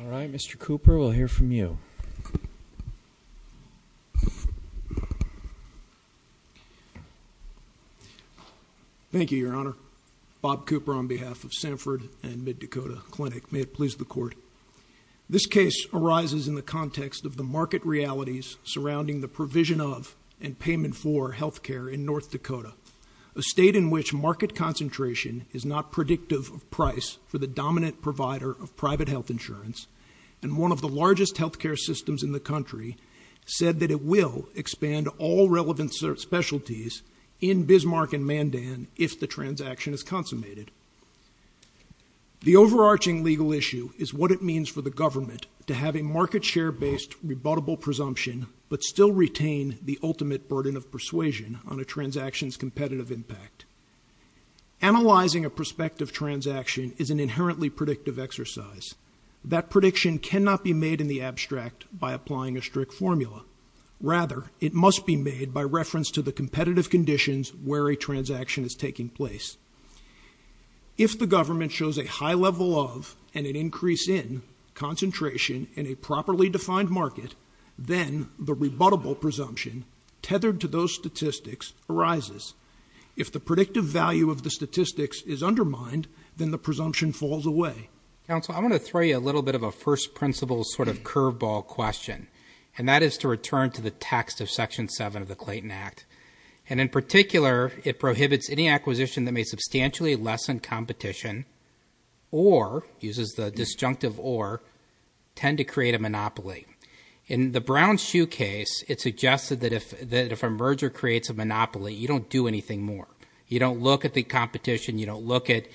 All right, Mr. Cooper, we'll hear from you. Thank you, Your Honor. Bob Cooper on behalf of Sanford and Mid-Dakota Clinic. May it please the Court. This case arises in the context of the market realities surrounding the provision of and payment for health care in North Dakota, a state in which market concentration is not predictive of price for the dominant provider of private health insurance, and one of the largest health care systems in the country said that it will expand all relevant specialties in Bismarck and Mandan if the transaction is consummated. The overarching legal issue is what it means for the government to have a market share based rebuttable presumption, but still retain the ultimate burden of persuasion on a transaction's competitive impact. Analyzing a prospective transaction is an inherently predictive exercise. That prediction cannot be made in the abstract by applying a strict formula. Rather, it must be made by reference to the competitive conditions where a transaction is taking place. If the government shows a high level of, and an increase in, concentration in a properly defined market, then the rebuttable presumption, tethered to those statistics, arises. If the predictive value of the statistics is undermined, then the presumption falls away. Counsel, I want to throw you a little bit of a first principles sort of curveball question, and that is to return to the text of Section 7 of the Clayton Act, and in particular, it prohibits any acquisition that may substantially lessen competition, or, uses the disjunctive or, tend to create a monopoly. In the Brown's Shoe case, it suggested that if a merger creates a monopoly, you don't do anything more. You don't look at the competition, you don't look at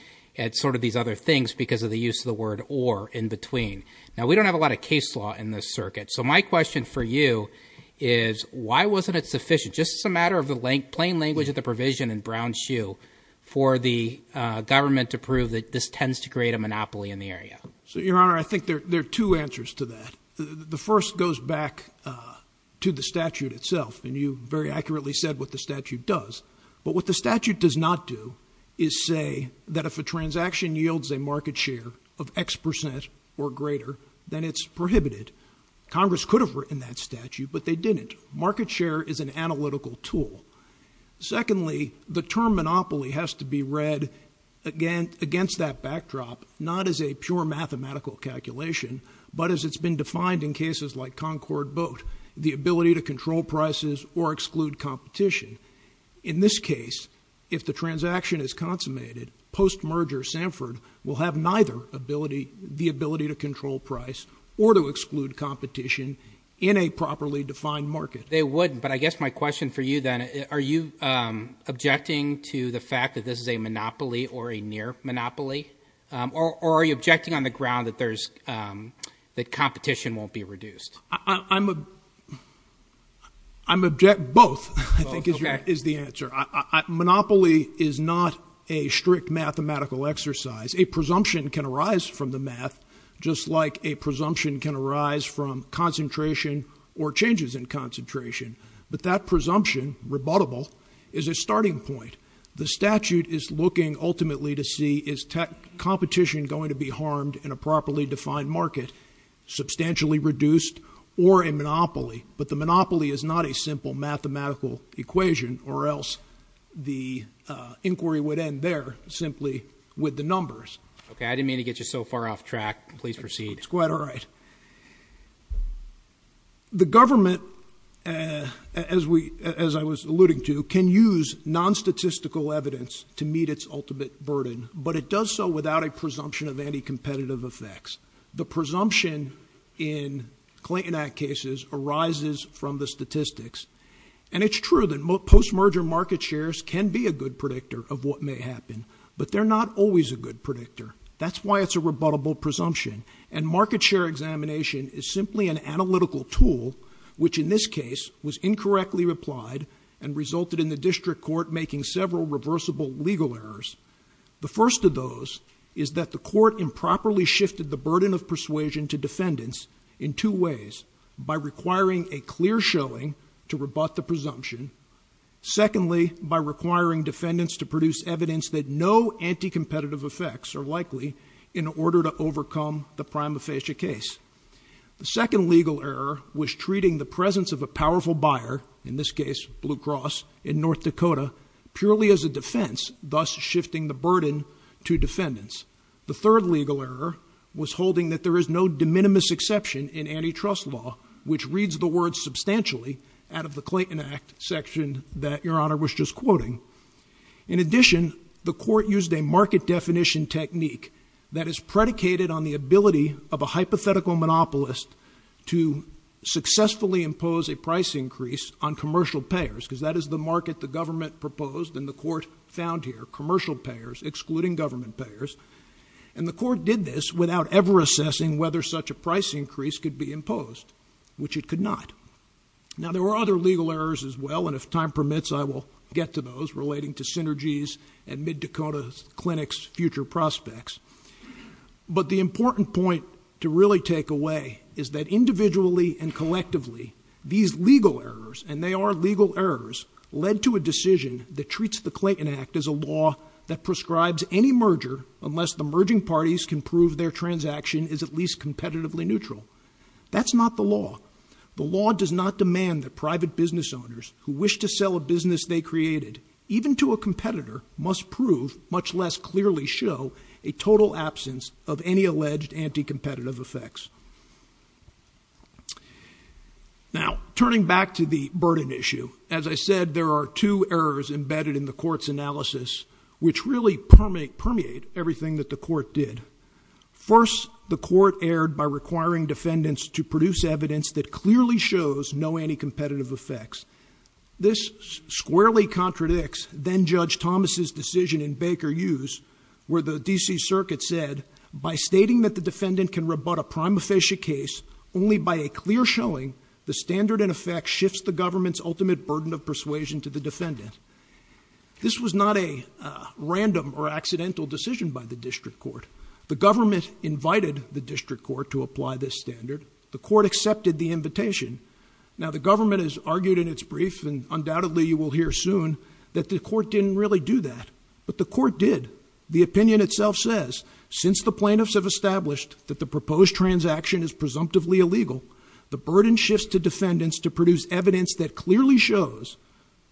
sort of these other things because of the use of the word or in between. Now, we don't have a lot of case law in this circuit, so my question for you is, why wasn't it sufficient, just as a matter of the plain language of the provision in Brown's Shoe, for the government to prove that this tends to create a monopoly in the area? So, Your Honor, I think there are two answers to that. The first goes back to the statute itself, and you very accurately said what the statute does, but what the statute does not do is say that if a transaction yields a market share of X percent or greater, then it's prohibited. Congress could have written that statute, but they didn't. Market share is an analytical tool. Secondly, the term monopoly has to be read against that backdrop, not as a pure mathematical calculation, but as it's been defined in cases like Concord Boat, the ability to control prices or exclude competition. In this case, if the transaction is consummated, post-merger Sanford will have neither ability, the ability to control price or to exclude competition in a properly defined market. They wouldn't, but I guess my question for you then, are you objecting to the fact that this is a monopoly or a near monopoly, or are you objecting on the ground that there's, that competition won't be reduced? I'm, I'm, I'm object, both, I think is the answer. I, I, monopoly is not a strict mathematical exercise. A presumption can arise from the math, just like a presumption can arise from concentration or changes in concentration. But that presumption, rebuttable, is a starting point. The statute is looking ultimately to see is tech competition going to be harmed in a properly defined market, substantially reduced, or a monopoly. But the monopoly is not a simple mathematical equation, or else the inquiry would end there, simply with the numbers. Okay, I didn't mean to get you so far off track. Please proceed. It's quite all right. The government, as we, as I was alluding to, can use non-statistical evidence to meet its ultimate burden, but it does so without a presumption of any competitive effects. The presumption in Clayton Act cases arises from the statistics. And it's true that post-merger market shares can be a good predictor of what may happen, but they're not always a good predictor. That's why it's a rebuttable presumption. And market share examination is simply an analytical tool, which in this case was incorrectly replied, and resulted in the district court making several reversible legal errors. The first of those is that the court improperly shifted the burden of persuasion to defendants in two ways. By requiring a clear showing to rebut the presumption. Secondly, by requiring defendants to produce evidence that no anti-competitive effects are likely, in order to overcome the prima facie case. The second legal error was treating the presence of a powerful buyer, in this case, Blue Cross, in North Dakota, purely as a defense, thus shifting the burden to defendants. The third legal error was holding that there is no de minimis exception in antitrust law, which reads the words substantially out of the Clayton Act section that your honor was just quoting. In addition, the court used a market definition technique that is predicated on the ability of a hypothetical monopolist to successfully impose a price increase on commercial payers, because that is the market the government proposed and the court found here, commercial payers excluding government payers. And the court did this without ever assessing whether such a price increase could be imposed, which it could not. Now there were other legal errors as well, and if time permits, I will get to those relating to Synergy's and Mid-Dakota Clinic's future prospects. But the important point to really take away is that individually and collectively, these legal errors, and they are legal errors, led to a decision that treats the Clayton Act as a law that prescribes any merger unless the merging parties can prove their transaction is at least competitively neutral. That's not the law. The law does not demand that private business owners who wish to sell a business they created, even to a competitor, must prove, much less clearly show, a total absence of any alleged anti-competitive effects. Now, turning back to the burden issue, as I said, there are two errors embedded in the court's analysis, which really permeate everything that the court did. First, the court erred by requiring defendants to produce evidence that clearly shows no anti-competitive effects. This squarely contradicts then Judge Thomas's decision in Baker Hughes, where the D.C. Circuit said, by stating that the defendant can rebut a prime officiate case only by a clear showing, the standard in effect shifts the government's ultimate burden of persuasion to the defendant. This was not a random or accidental decision by the district court. The government invited the district court to apply this standard. The court accepted the invitation. Now, the government has argued in its brief, and undoubtedly you will hear soon, that the court didn't really do that. But the court did. The opinion itself says, since the plaintiffs have established that the proposed transaction is presumptively illegal, the burden shifts to defendants to produce evidence that clearly shows,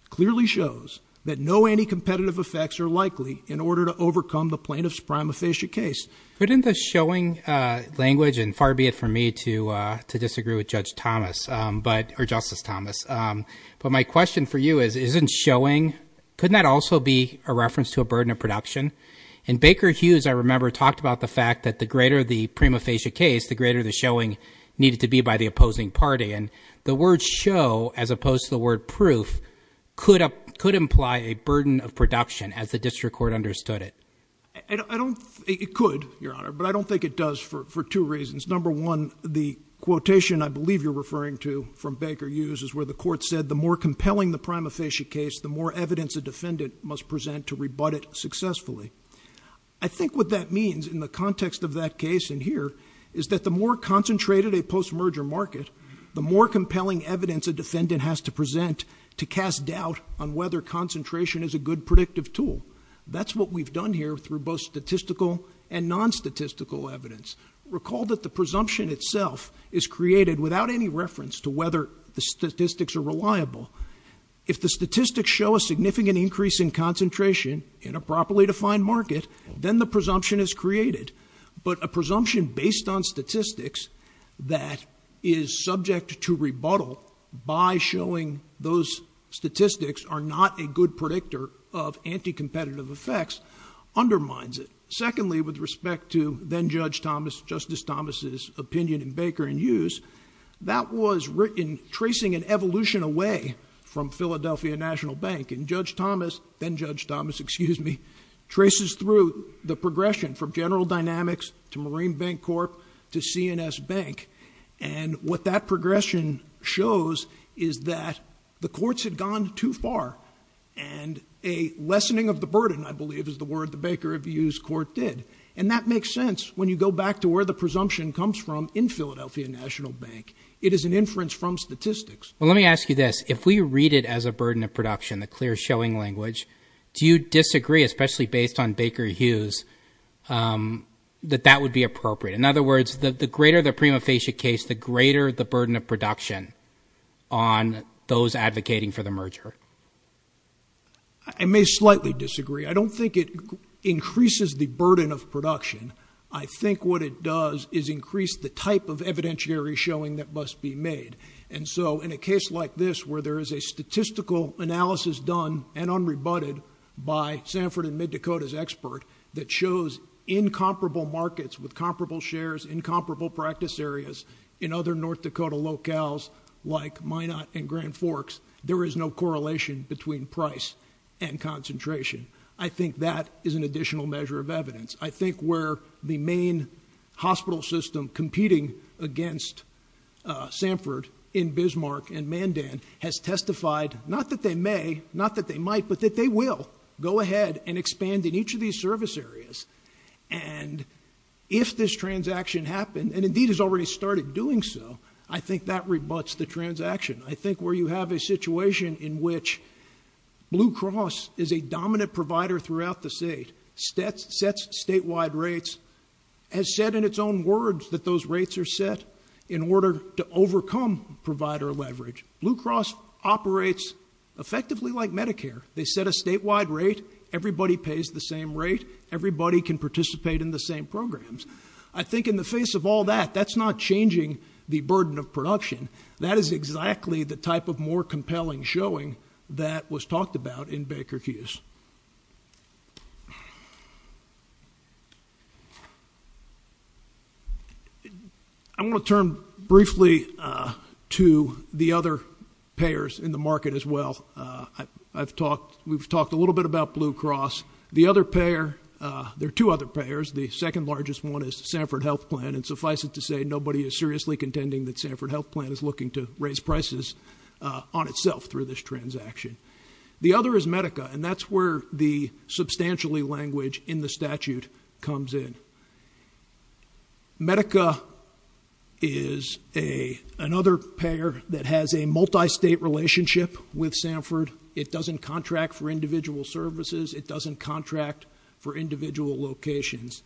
clearly shows, that no anti-competitive effects are likely in order to overcome the plaintiff's prime officiate case. Couldn't the showing language, and far be it from me to disagree with Judge Thomas, or Justice Thomas, but my question for you is, isn't showing, couldn't that also be a reference to a burden of production? In Baker Hughes, I remember, talked about the fact that the greater the prime officiate case, the greater the showing needed to be by the opposing party. And the word show, as opposed to the word proof, could imply a burden of production, as the district court understood it. I don't, it could, Your Honor, but I don't think it does for two reasons. Number one, the quotation I believe you're referring to from Baker Hughes is where the court said, the more compelling the prime officiate case, the more evidence a defendant must present to rebut it successfully. I think what that means, in the context of that case in here, is that the more concentrated a post-merger market, the more compelling evidence a defendant has to present to cast doubt on whether concentration is a good predictive tool. That's what we've done here through both statistical and non-statistical evidence. Recall that the presumption itself is created without any reference to whether the statistics are reliable. If the statistics show a significant increase in concentration, in a properly defined market, then the presumption is created. But a presumption based on statistics that is subject to rebuttal by showing those statistics are not a good predictor of anti-competitive effects undermines it. Secondly, with respect to then-Judge Thomas, Justice Thomas' opinion in Baker and Hughes, that was written tracing an evolution away from Philadelphia National Bank. And Judge Thomas, then-Judge Thomas, excuse me, traces through the progression from General Dynamics to Marine Bank Corp. to CNS Bank. And what that progression shows is that the courts had gone too far, and a lessening of the burden, I believe, is the word the Baker and Hughes court did. And that makes sense when you go back to where the presumption comes from in Philadelphia National Bank. It is an inference from statistics. Well, let me ask you this. If we read it as a burden of production, the clear showing language, do you disagree, especially based on Baker and Hughes, that that would be appropriate? In other words, the greater the prima facie case, the greater the burden of production on those advocating for the merger. I may slightly disagree. I don't think it increases the burden of production. I think what it does is increase the type of evidentiary showing that must be made. And so, in a case like this where there is a statistical analysis done and unrebutted by Sanford and Mid-Dakota's expert that shows incomparable markets with comparable shares, incomparable practice areas in other North Dakota locales like Minot and Grand Forks, there is no correlation between price and concentration. I think that is an additional measure of evidence. I think where the main hospital system competing against Sanford in Bismarck and Mandan has testified not that they may, not that they might, but that they will go ahead and expand in each of these service areas. And if this transaction happened, and indeed has already started doing so, I think that rebuts the transaction. I think where you have a situation in which Blue Cross is a dominant provider throughout the state, sets statewide rates, has said in its own words that those rates are set in order to overcome provider leverage. Blue Cross operates effectively like Medicare. They set a statewide rate. Everybody pays the same rate. Everybody can participate in the same programs. I think in the face of all that, that's not changing the burden of production. That is exactly the type of more compelling showing that was talked about in Baker Hughes. I want to turn briefly to the other payers in the market as well. We've talked a little bit about Blue Cross. The other payer, there are two other payers. The second largest one is Sanford Health Plan, and suffice it to say, nobody is seriously contending that Sanford Health Plan is looking to raise prices on itself through this transaction. The other is Medica, and that's where the substantially language in the statute comes in. Medica is another payer that has a multi-state relationship with Sanford. It doesn't contract for individual services. It doesn't contract for individual locations.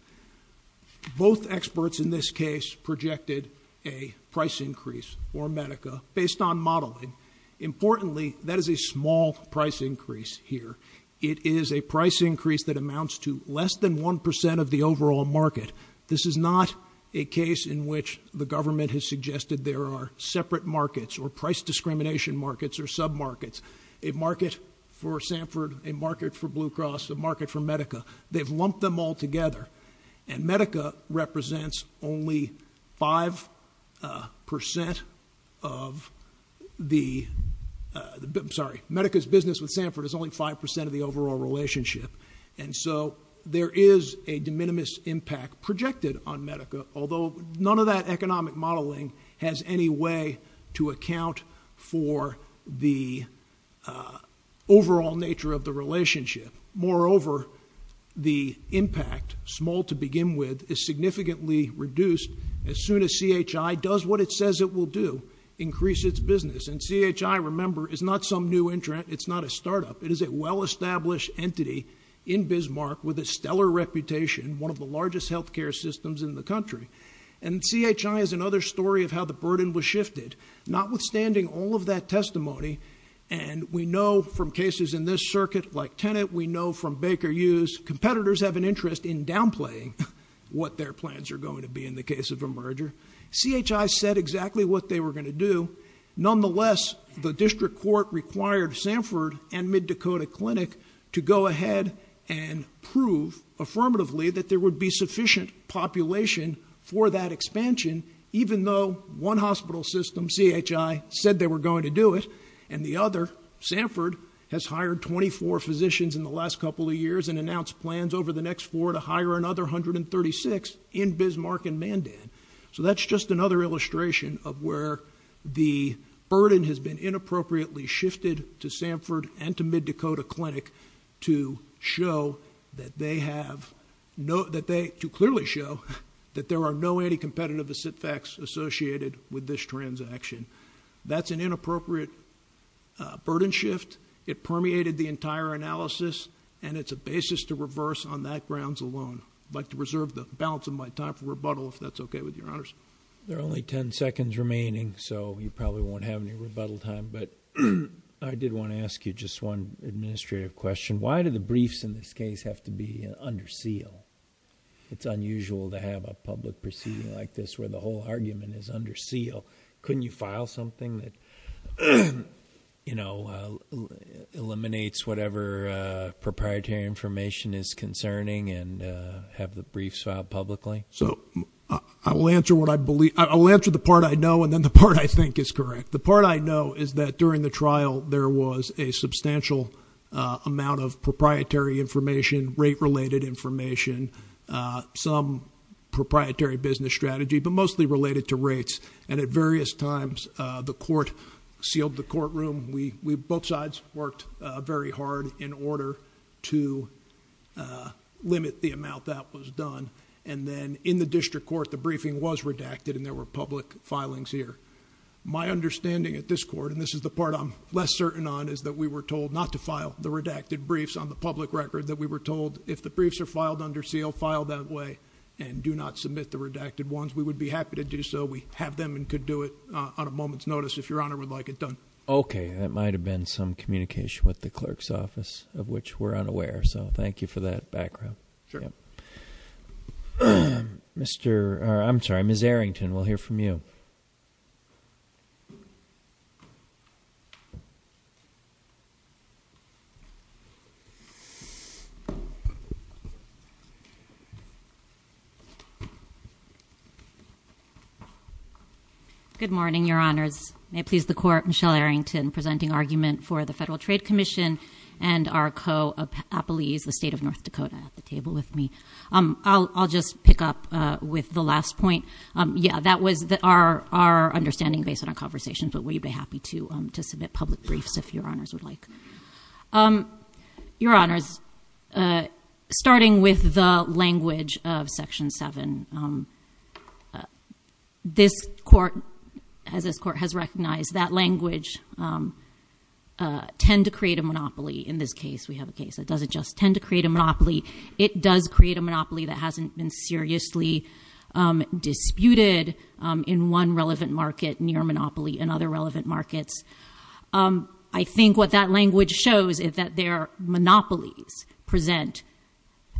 Both experts in this case projected a price increase for Medica based on modeling. Importantly, that is a small price increase here. It is a price increase that amounts to less than 1% of the overall market. This is not a case in which the government has suggested there are separate markets or price discrimination markets or sub-markets. A market for Sanford, a market for Blue Cross, a market for Medica. They've lumped them all together. Medica's business with Sanford is only 5% of the overall relationship. There is a de minimis impact projected on Medica, although none of that economic modeling has any way to account for the overall nature of the relationship. Moreover, the impact, small to begin with, is significantly reduced as soon as CHI does what it says it will do, increase its business. And CHI, remember, is not some new entrant. It's not a startup. It is a well-established entity in Bismarck with a stellar reputation, one of the largest health care systems in the country. And CHI is another story of how the burden was shifted. Notwithstanding all of that testimony, and we know from cases in this circuit, like Tenet, we know from Baker Hughes, competitors have an interest in downplaying what their plans are going to be in the case of a merger. CHI said exactly what they were going to do. Nonetheless, the district court required Sanford and Mid-Dakota Clinic to go ahead and prove affirmatively that there would be sufficient population for that expansion, even though one hospital system, CHI, said they were going to do it, and the other, Sanford, has hired 24 physicians in the last couple of years and announced plans over the next four to hire another 136 in Bismarck and Mandan. So that's just another illustration of where the burden has been inappropriately shifted to Sanford and to Mid-Dakota Clinic to show that they have no— to clearly show that there are no anti-competitive effects associated with this transaction. That's an inappropriate burden shift. It permeated the entire analysis, and it's a basis to reverse on that grounds alone. I'd like to reserve the balance of my time for rebuttal, if that's okay with Your Honors. There are only ten seconds remaining, so you probably won't have any rebuttal time, but I did want to ask you just one administrative question. Why do the briefs in this case have to be under seal? It's unusual to have a public proceeding like this where the whole argument is under seal. Couldn't you file something that eliminates whatever proprietary information is concerning and have the briefs filed publicly? I will answer the part I know and then the part I think is correct. The part I know is that during the trial there was a substantial amount of proprietary information, rate-related information, some proprietary business strategy, but mostly related to rates, and at various times the court sealed the courtroom. Both sides worked very hard in order to limit the amount that was done, and then in the district court the briefing was redacted and there were public filings here. My understanding at this court, and this is the part I'm less certain on, is that we were told not to file the redacted briefs on the public record, that we were told if the briefs are filed under seal, file that way, and do not submit the redacted ones. We would be happy to do so. We have them and could do it on a moment's notice if Your Honor would like it done. Okay. That might have been some communication with the clerk's office of which we're unaware, so thank you for that background. Sure. I'm sorry, Ms. Arrington, we'll hear from you. Good morning, Your Honors. May it please the Court, Michelle Arrington presenting argument for the Federal Trade Commission and our co-appellees, the State of North Dakota at the table with me. I'll just pick up with the last point. Yeah, that was our understanding based on our conversations, but we'd be happy to submit public briefs if Your Honors would like. Your Honors, starting with the language of Section 7, this Court, as this Court has recognized, that language tend to create a monopoly in this case. We have a case that doesn't just tend to create a monopoly, it does create a monopoly that hasn't been seriously disputed in one relevant market, near a monopoly in other relevant markets. I think what that language shows is that their monopolies present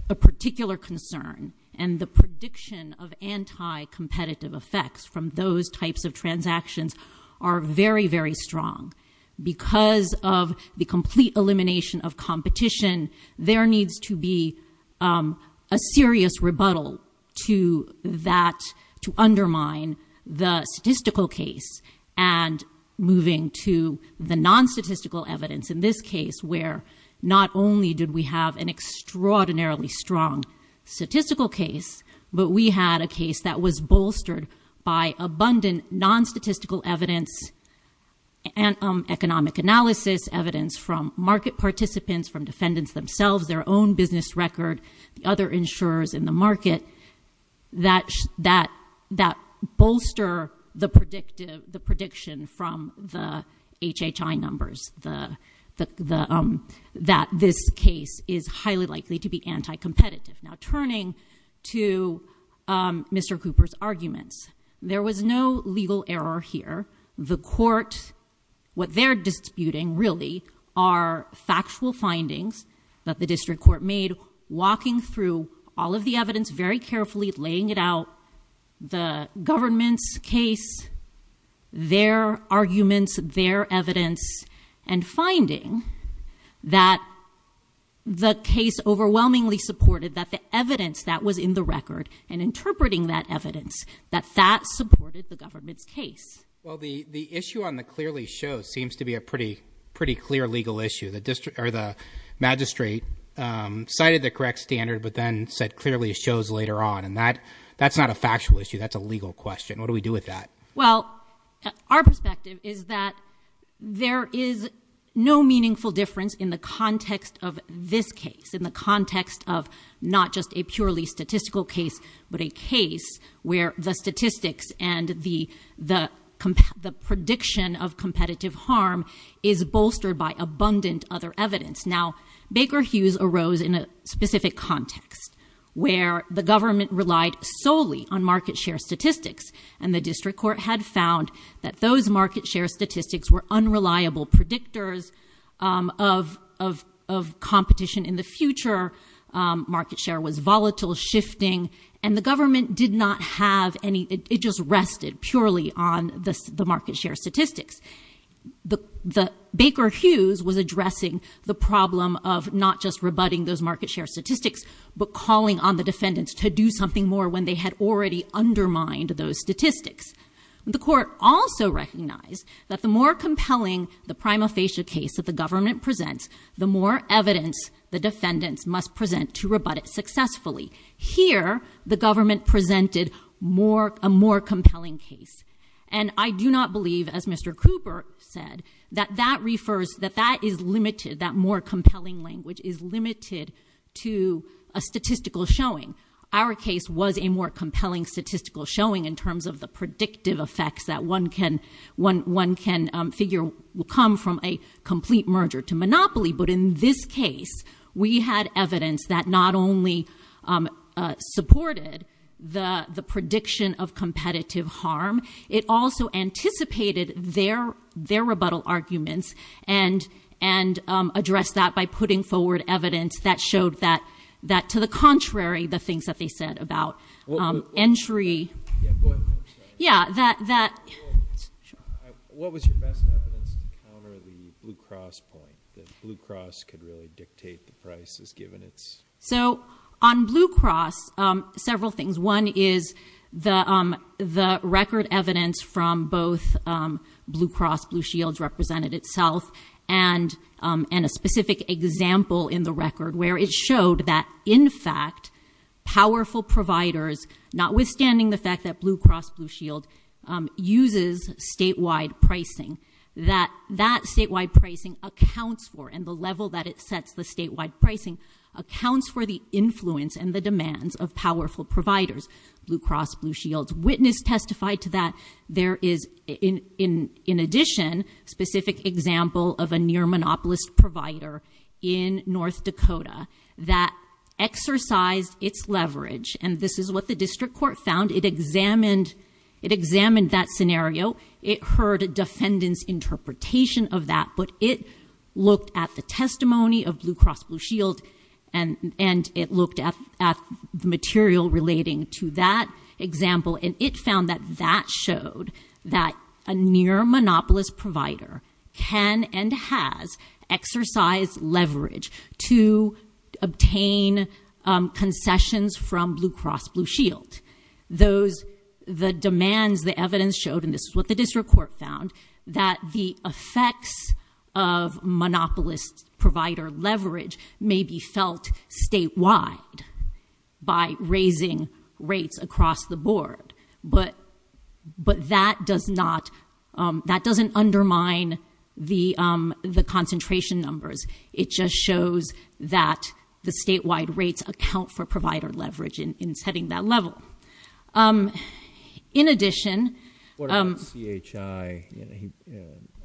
a particular concern, and the prediction of anti-competitive effects from those types of transactions are very, very strong. Because of the complete elimination of competition, there needs to be a serious rebuttal to undermine the statistical case and moving to the non-statistical evidence in this case, where not only did we have an extraordinarily strong statistical case, but we had a case that was bolstered by abundant non-statistical evidence, economic analysis, evidence from market participants, from defendants themselves, their own business record, the other insurers in the market, that bolster the prediction from the HHI numbers, that this case is highly likely to be anti-competitive. Now, turning to Mr. Cooper's arguments, there was no legal error here. The Court, what they're disputing, really, are factual findings that the District Court made, so walking through all of the evidence very carefully, laying it out, the government's case, their arguments, their evidence, and finding that the case overwhelmingly supported, that the evidence that was in the record, and interpreting that evidence, that that supported the government's case. Well, the issue on the clear lease show seems to be a pretty clear legal issue. The magistrate cited the correct standard, but then said clearly it shows later on, and that's not a factual issue, that's a legal question. What do we do with that? Well, our perspective is that there is no meaningful difference in the context of this case, in the context of not just a purely statistical case, but a case where the statistics and the prediction of competitive harm is bolstered by abundant other evidence. Now, Baker Hughes arose in a specific context where the government relied solely on market share statistics, and the District Court had found that those market share statistics were unreliable predictors of competition in the future. Market share was volatile, shifting, and the government did not have any, it just rested purely on the market share statistics. Baker Hughes was addressing the problem of not just rebutting those market share statistics, but calling on the defendants to do something more when they had already undermined those statistics. The court also recognized that the more compelling the prima facie case that the government presents, the more evidence the defendants must present to rebut it successfully. Here, the government presented a more compelling case, and I do not believe, as Mr. Cooper said, that that is limited, that more compelling language is limited to a statistical showing. Our case was a more compelling statistical showing in terms of the predictive effects that one can figure will come from a complete merger to monopoly, but in this case, we had evidence that not only supported the prediction of competitive harm, it also anticipated their rebuttal arguments and addressed that by putting forward evidence that showed that, to the contrary, the things that they said about entry. Yeah, that. So, on Blue Cross, several things. One is the record evidence from both Blue Cross, Blue Shields represented itself, and a specific example in the record where it showed that, in fact, powerful providers, notwithstanding the fact that Blue Cross, Blue Shield uses statewide pricing, that that statewide pricing accounts for, and the level that it sets the statewide pricing, accounts for the influence and the demands of powerful providers. Blue Cross, Blue Shields witness testified to that. There is, in addition, a specific example of a near-monopolist provider in North Dakota that exercised its leverage, and this is what the district court found. It examined that scenario. It heard a defendant's interpretation of that, but it looked at the testimony of Blue Cross, Blue Shield, and it looked at the material relating to that example, and it found that that showed that a near-monopolist provider can and has exercised leverage to obtain concessions from Blue Cross, Blue Shield. The demands, the evidence showed, and this is what the district court found, that the effects of monopolist provider leverage may be felt statewide by raising rates across the board, but that doesn't undermine the concentration numbers. It just shows that the statewide rates account for provider leverage in setting that level. In addition... What about CHI?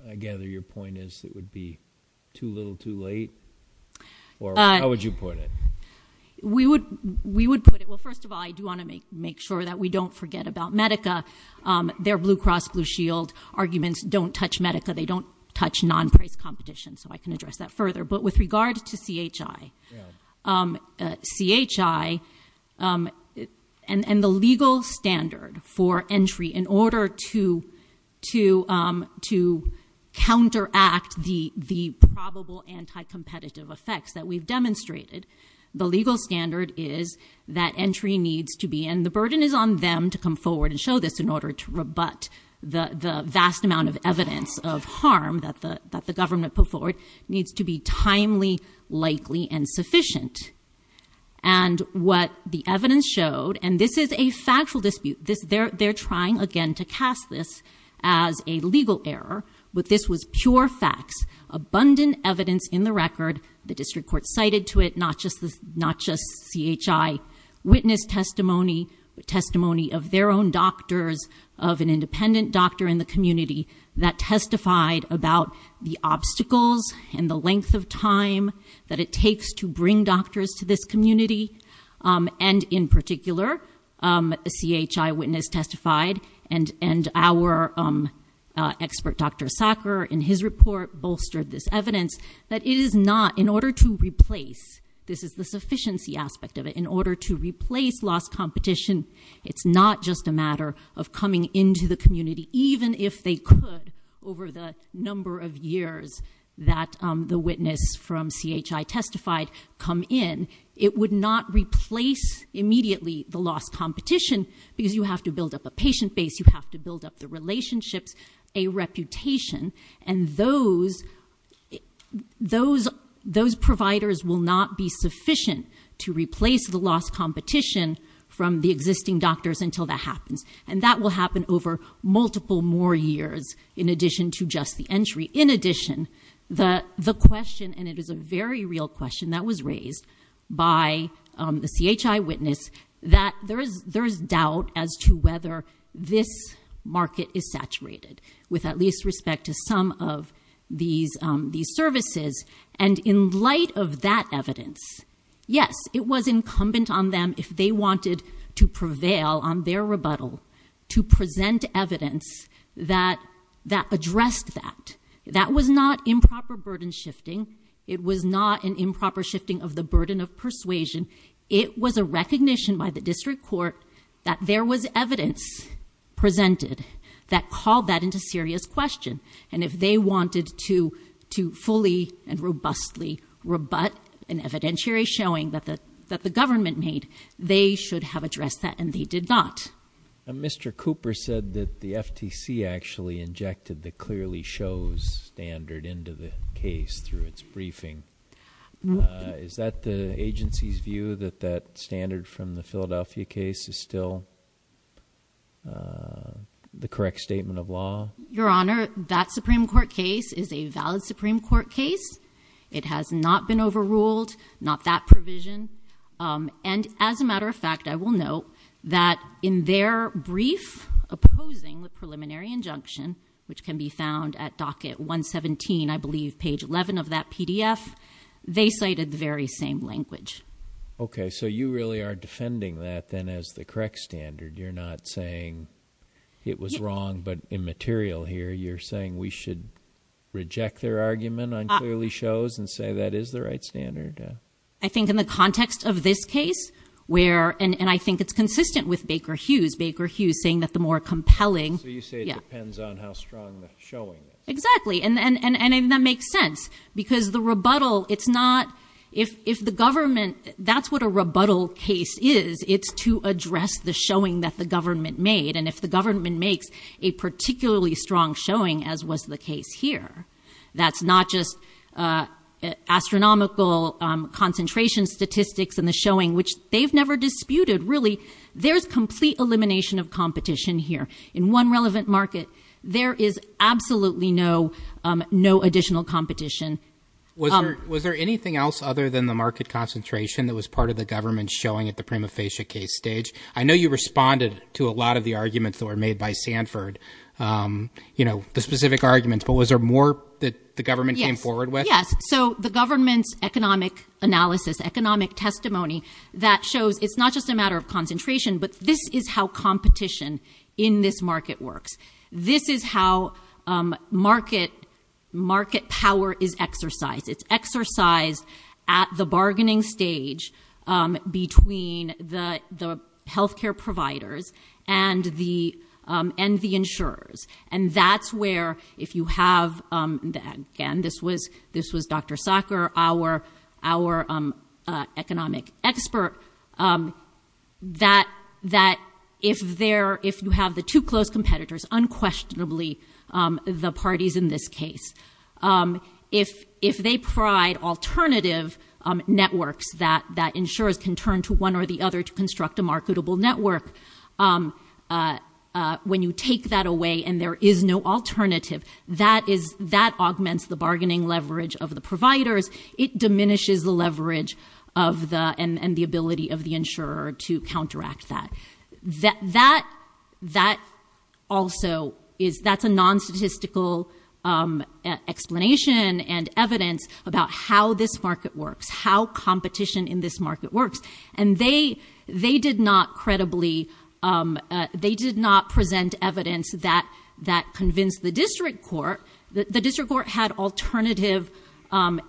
I gather your point is it would be too little too late, or how would you put it? We would put it. Well, first of all, I do want to make sure that we don't forget about Medica. Their Blue Cross, Blue Shield arguments don't touch Medica. They don't touch non-price competition, so I can address that further. But with regard to CHI, and the legal standard for entry in order to counteract the probable anti-competitive effects that we've demonstrated, the legal standard is that entry needs to be, and the burden is on them to come forward and show this in order to rebut the vast amount of evidence of harm that the government put forward, needs to be timely, likely, and sufficient. And what the evidence showed, and this is a factual dispute. They're trying again to cast this as a legal error, but this was pure facts. Abundant evidence in the record. The district court cited to it, not just CHI. Witness testimony, testimony of their own doctors, of an independent doctor in the community that testified about the obstacles and the length of time that it takes to bring doctors to this community. And in particular, a CHI witness testified, and our expert Dr. Sacker, in his report, bolstered this evidence that it is not, in order to replace, this is the sufficiency aspect of it, in order to replace lost competition, it's not just a matter of coming into the community, even if they could, over the number of years that the witness from CHI testified come in, it would not replace immediately the lost competition, because you have to build up a patient base, you have to build up the relationships, a reputation, and those providers will not be sufficient to replace the lost competition from the existing doctors until that happens. And that will happen over multiple more years in addition to just the entry. In addition, the question, and it is a very real question that was raised by the CHI witness, that there is doubt as to whether this market is saturated with at least respect to some of these services. And in light of that evidence, yes, it was incumbent on them, if they wanted to prevail on their rebuttal, to present evidence that addressed that. That was not improper burden shifting. It was not an improper shifting of the burden of persuasion. It was a recognition by the district court that there was evidence presented that called that into serious question. And if they wanted to fully and robustly rebut an evidentiary showing that the government made, they should have addressed that, and they did not. Mr. Cooper said that the FTC actually injected the clearly shows standard into the case through its briefing. Is that the agency's view, that that standard from the Philadelphia case is still the correct statement of law? Your Honor, that Supreme Court case is a valid Supreme Court case. It has not been overruled, not that provision. And as a matter of fact, I will note that in their brief opposing the preliminary injunction, which can be found at docket 117, I believe, page 11 of that PDF, they cited the very same language. Okay, so you really are defending that then as the correct standard. You're not saying it was wrong but immaterial here. You're saying we should reject their argument on clearly shows and say that is the right standard. I think in the context of this case where, and I think it's consistent with Baker Hughes, Baker Hughes saying that the more compelling- So you say it depends on how strong the showing is. Exactly, and that makes sense because the rebuttal, it's not, if the government, that's what a rebuttal case is. It's to address the showing that the government made. And if the government makes a particularly strong showing, as was the case here, that's not just astronomical concentration statistics and the showing, which they've never disputed, really. There's complete elimination of competition here. In one relevant market, there is absolutely no additional competition. Was there anything else other than the market concentration that was part of the government showing at the prima facie case stage? I know you responded to a lot of the arguments that were made by Sanford, the specific arguments, but was there more that the government came forward with? Yes, so the government's economic analysis, economic testimony that shows it's not just a matter of concentration, but this is how competition in this market works. This is how market power is exercised. It's exercised at the bargaining stage between the health care providers and the insurers. And that's where, if you have, again, this was Dr. Sacker, our economic expert, that if you have the two close competitors, unquestionably the parties in this case, if they provide alternative networks that insurers can turn to one or the other to construct a marketable network, when you take that away and there is no alternative, that augments the bargaining leverage of the providers. It diminishes the leverage and the ability of the insurer to counteract that. That also is a non-statistical explanation and evidence about how this market works, how competition in this market works. And they did not present evidence that convinced the district court. The district court had alternative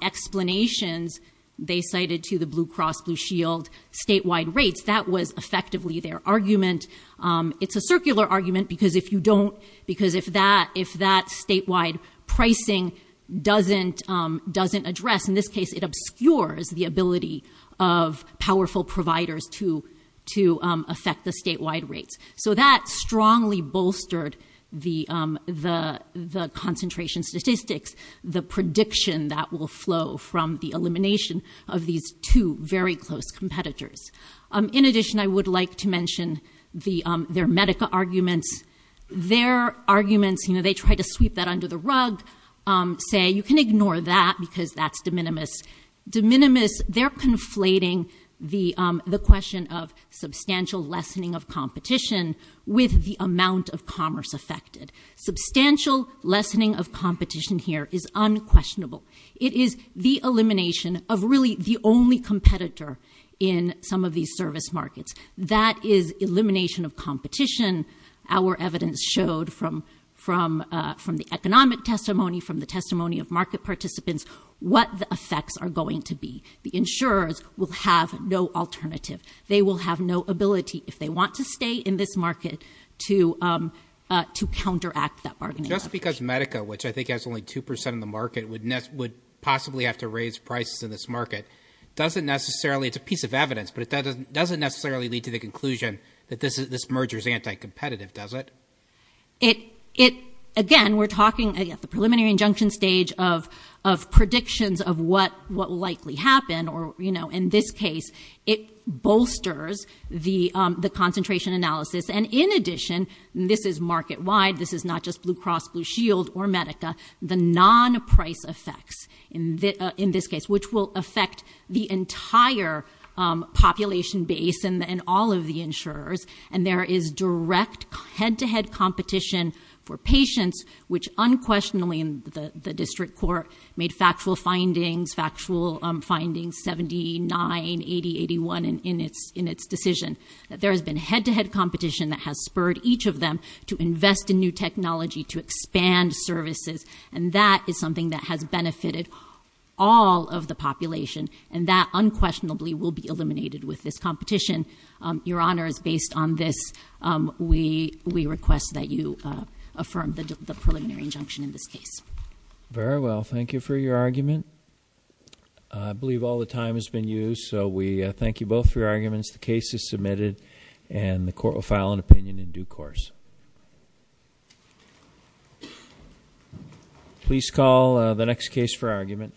explanations. They cited to the Blue Cross Blue Shield statewide rates. That was effectively their argument. It's a circular argument because if that statewide pricing doesn't address, in this case, it obscures the ability of powerful providers to affect the statewide rates. So that strongly bolstered the concentration statistics, the prediction that will flow from the elimination of these two very close competitors. In addition, I would like to mention their Medica arguments. Their arguments, they try to sweep that under the rug, say you can ignore that because that's de minimis. De minimis, they're conflating the question of substantial lessening of competition with the amount of commerce affected. Substantial lessening of competition here is unquestionable. It is the elimination of really the only competitor in some of these service markets. That is elimination of competition. Our evidence showed from the economic testimony, from the testimony of market participants, what the effects are going to be. The insurers will have no alternative. They will have no ability, if they want to stay in this market, to counteract that bargaining. Just because Medica, which I think has only 2% of the market, would possibly have to raise prices in this market, it's a piece of evidence, but it doesn't necessarily lead to the conclusion that this merger is anti-competitive, does it? Again, we're talking at the preliminary injunction stage of predictions of what will likely happen. In this case, it bolsters the concentration analysis. In addition, this is market-wide. This is not just Blue Cross Blue Shield or Medica. The non-price effects in this case, which will affect the entire population base and all of the insurers, and there is direct head-to-head competition for patients, which unquestionably the district court made factual findings, factual findings 79, 80, 81 in its decision. That there has been head-to-head competition that has spurred each of them to invest in new technology to expand services. And that is something that has benefited all of the population. And that unquestionably will be eliminated with this competition. Your Honor, it's based on this. We request that you affirm the preliminary injunction in this case. Very well. Thank you for your argument. I believe all the time has been used, so we thank you both for your arguments. The case is submitted, and the court will file an opinion in due course. Please call the next case for argument.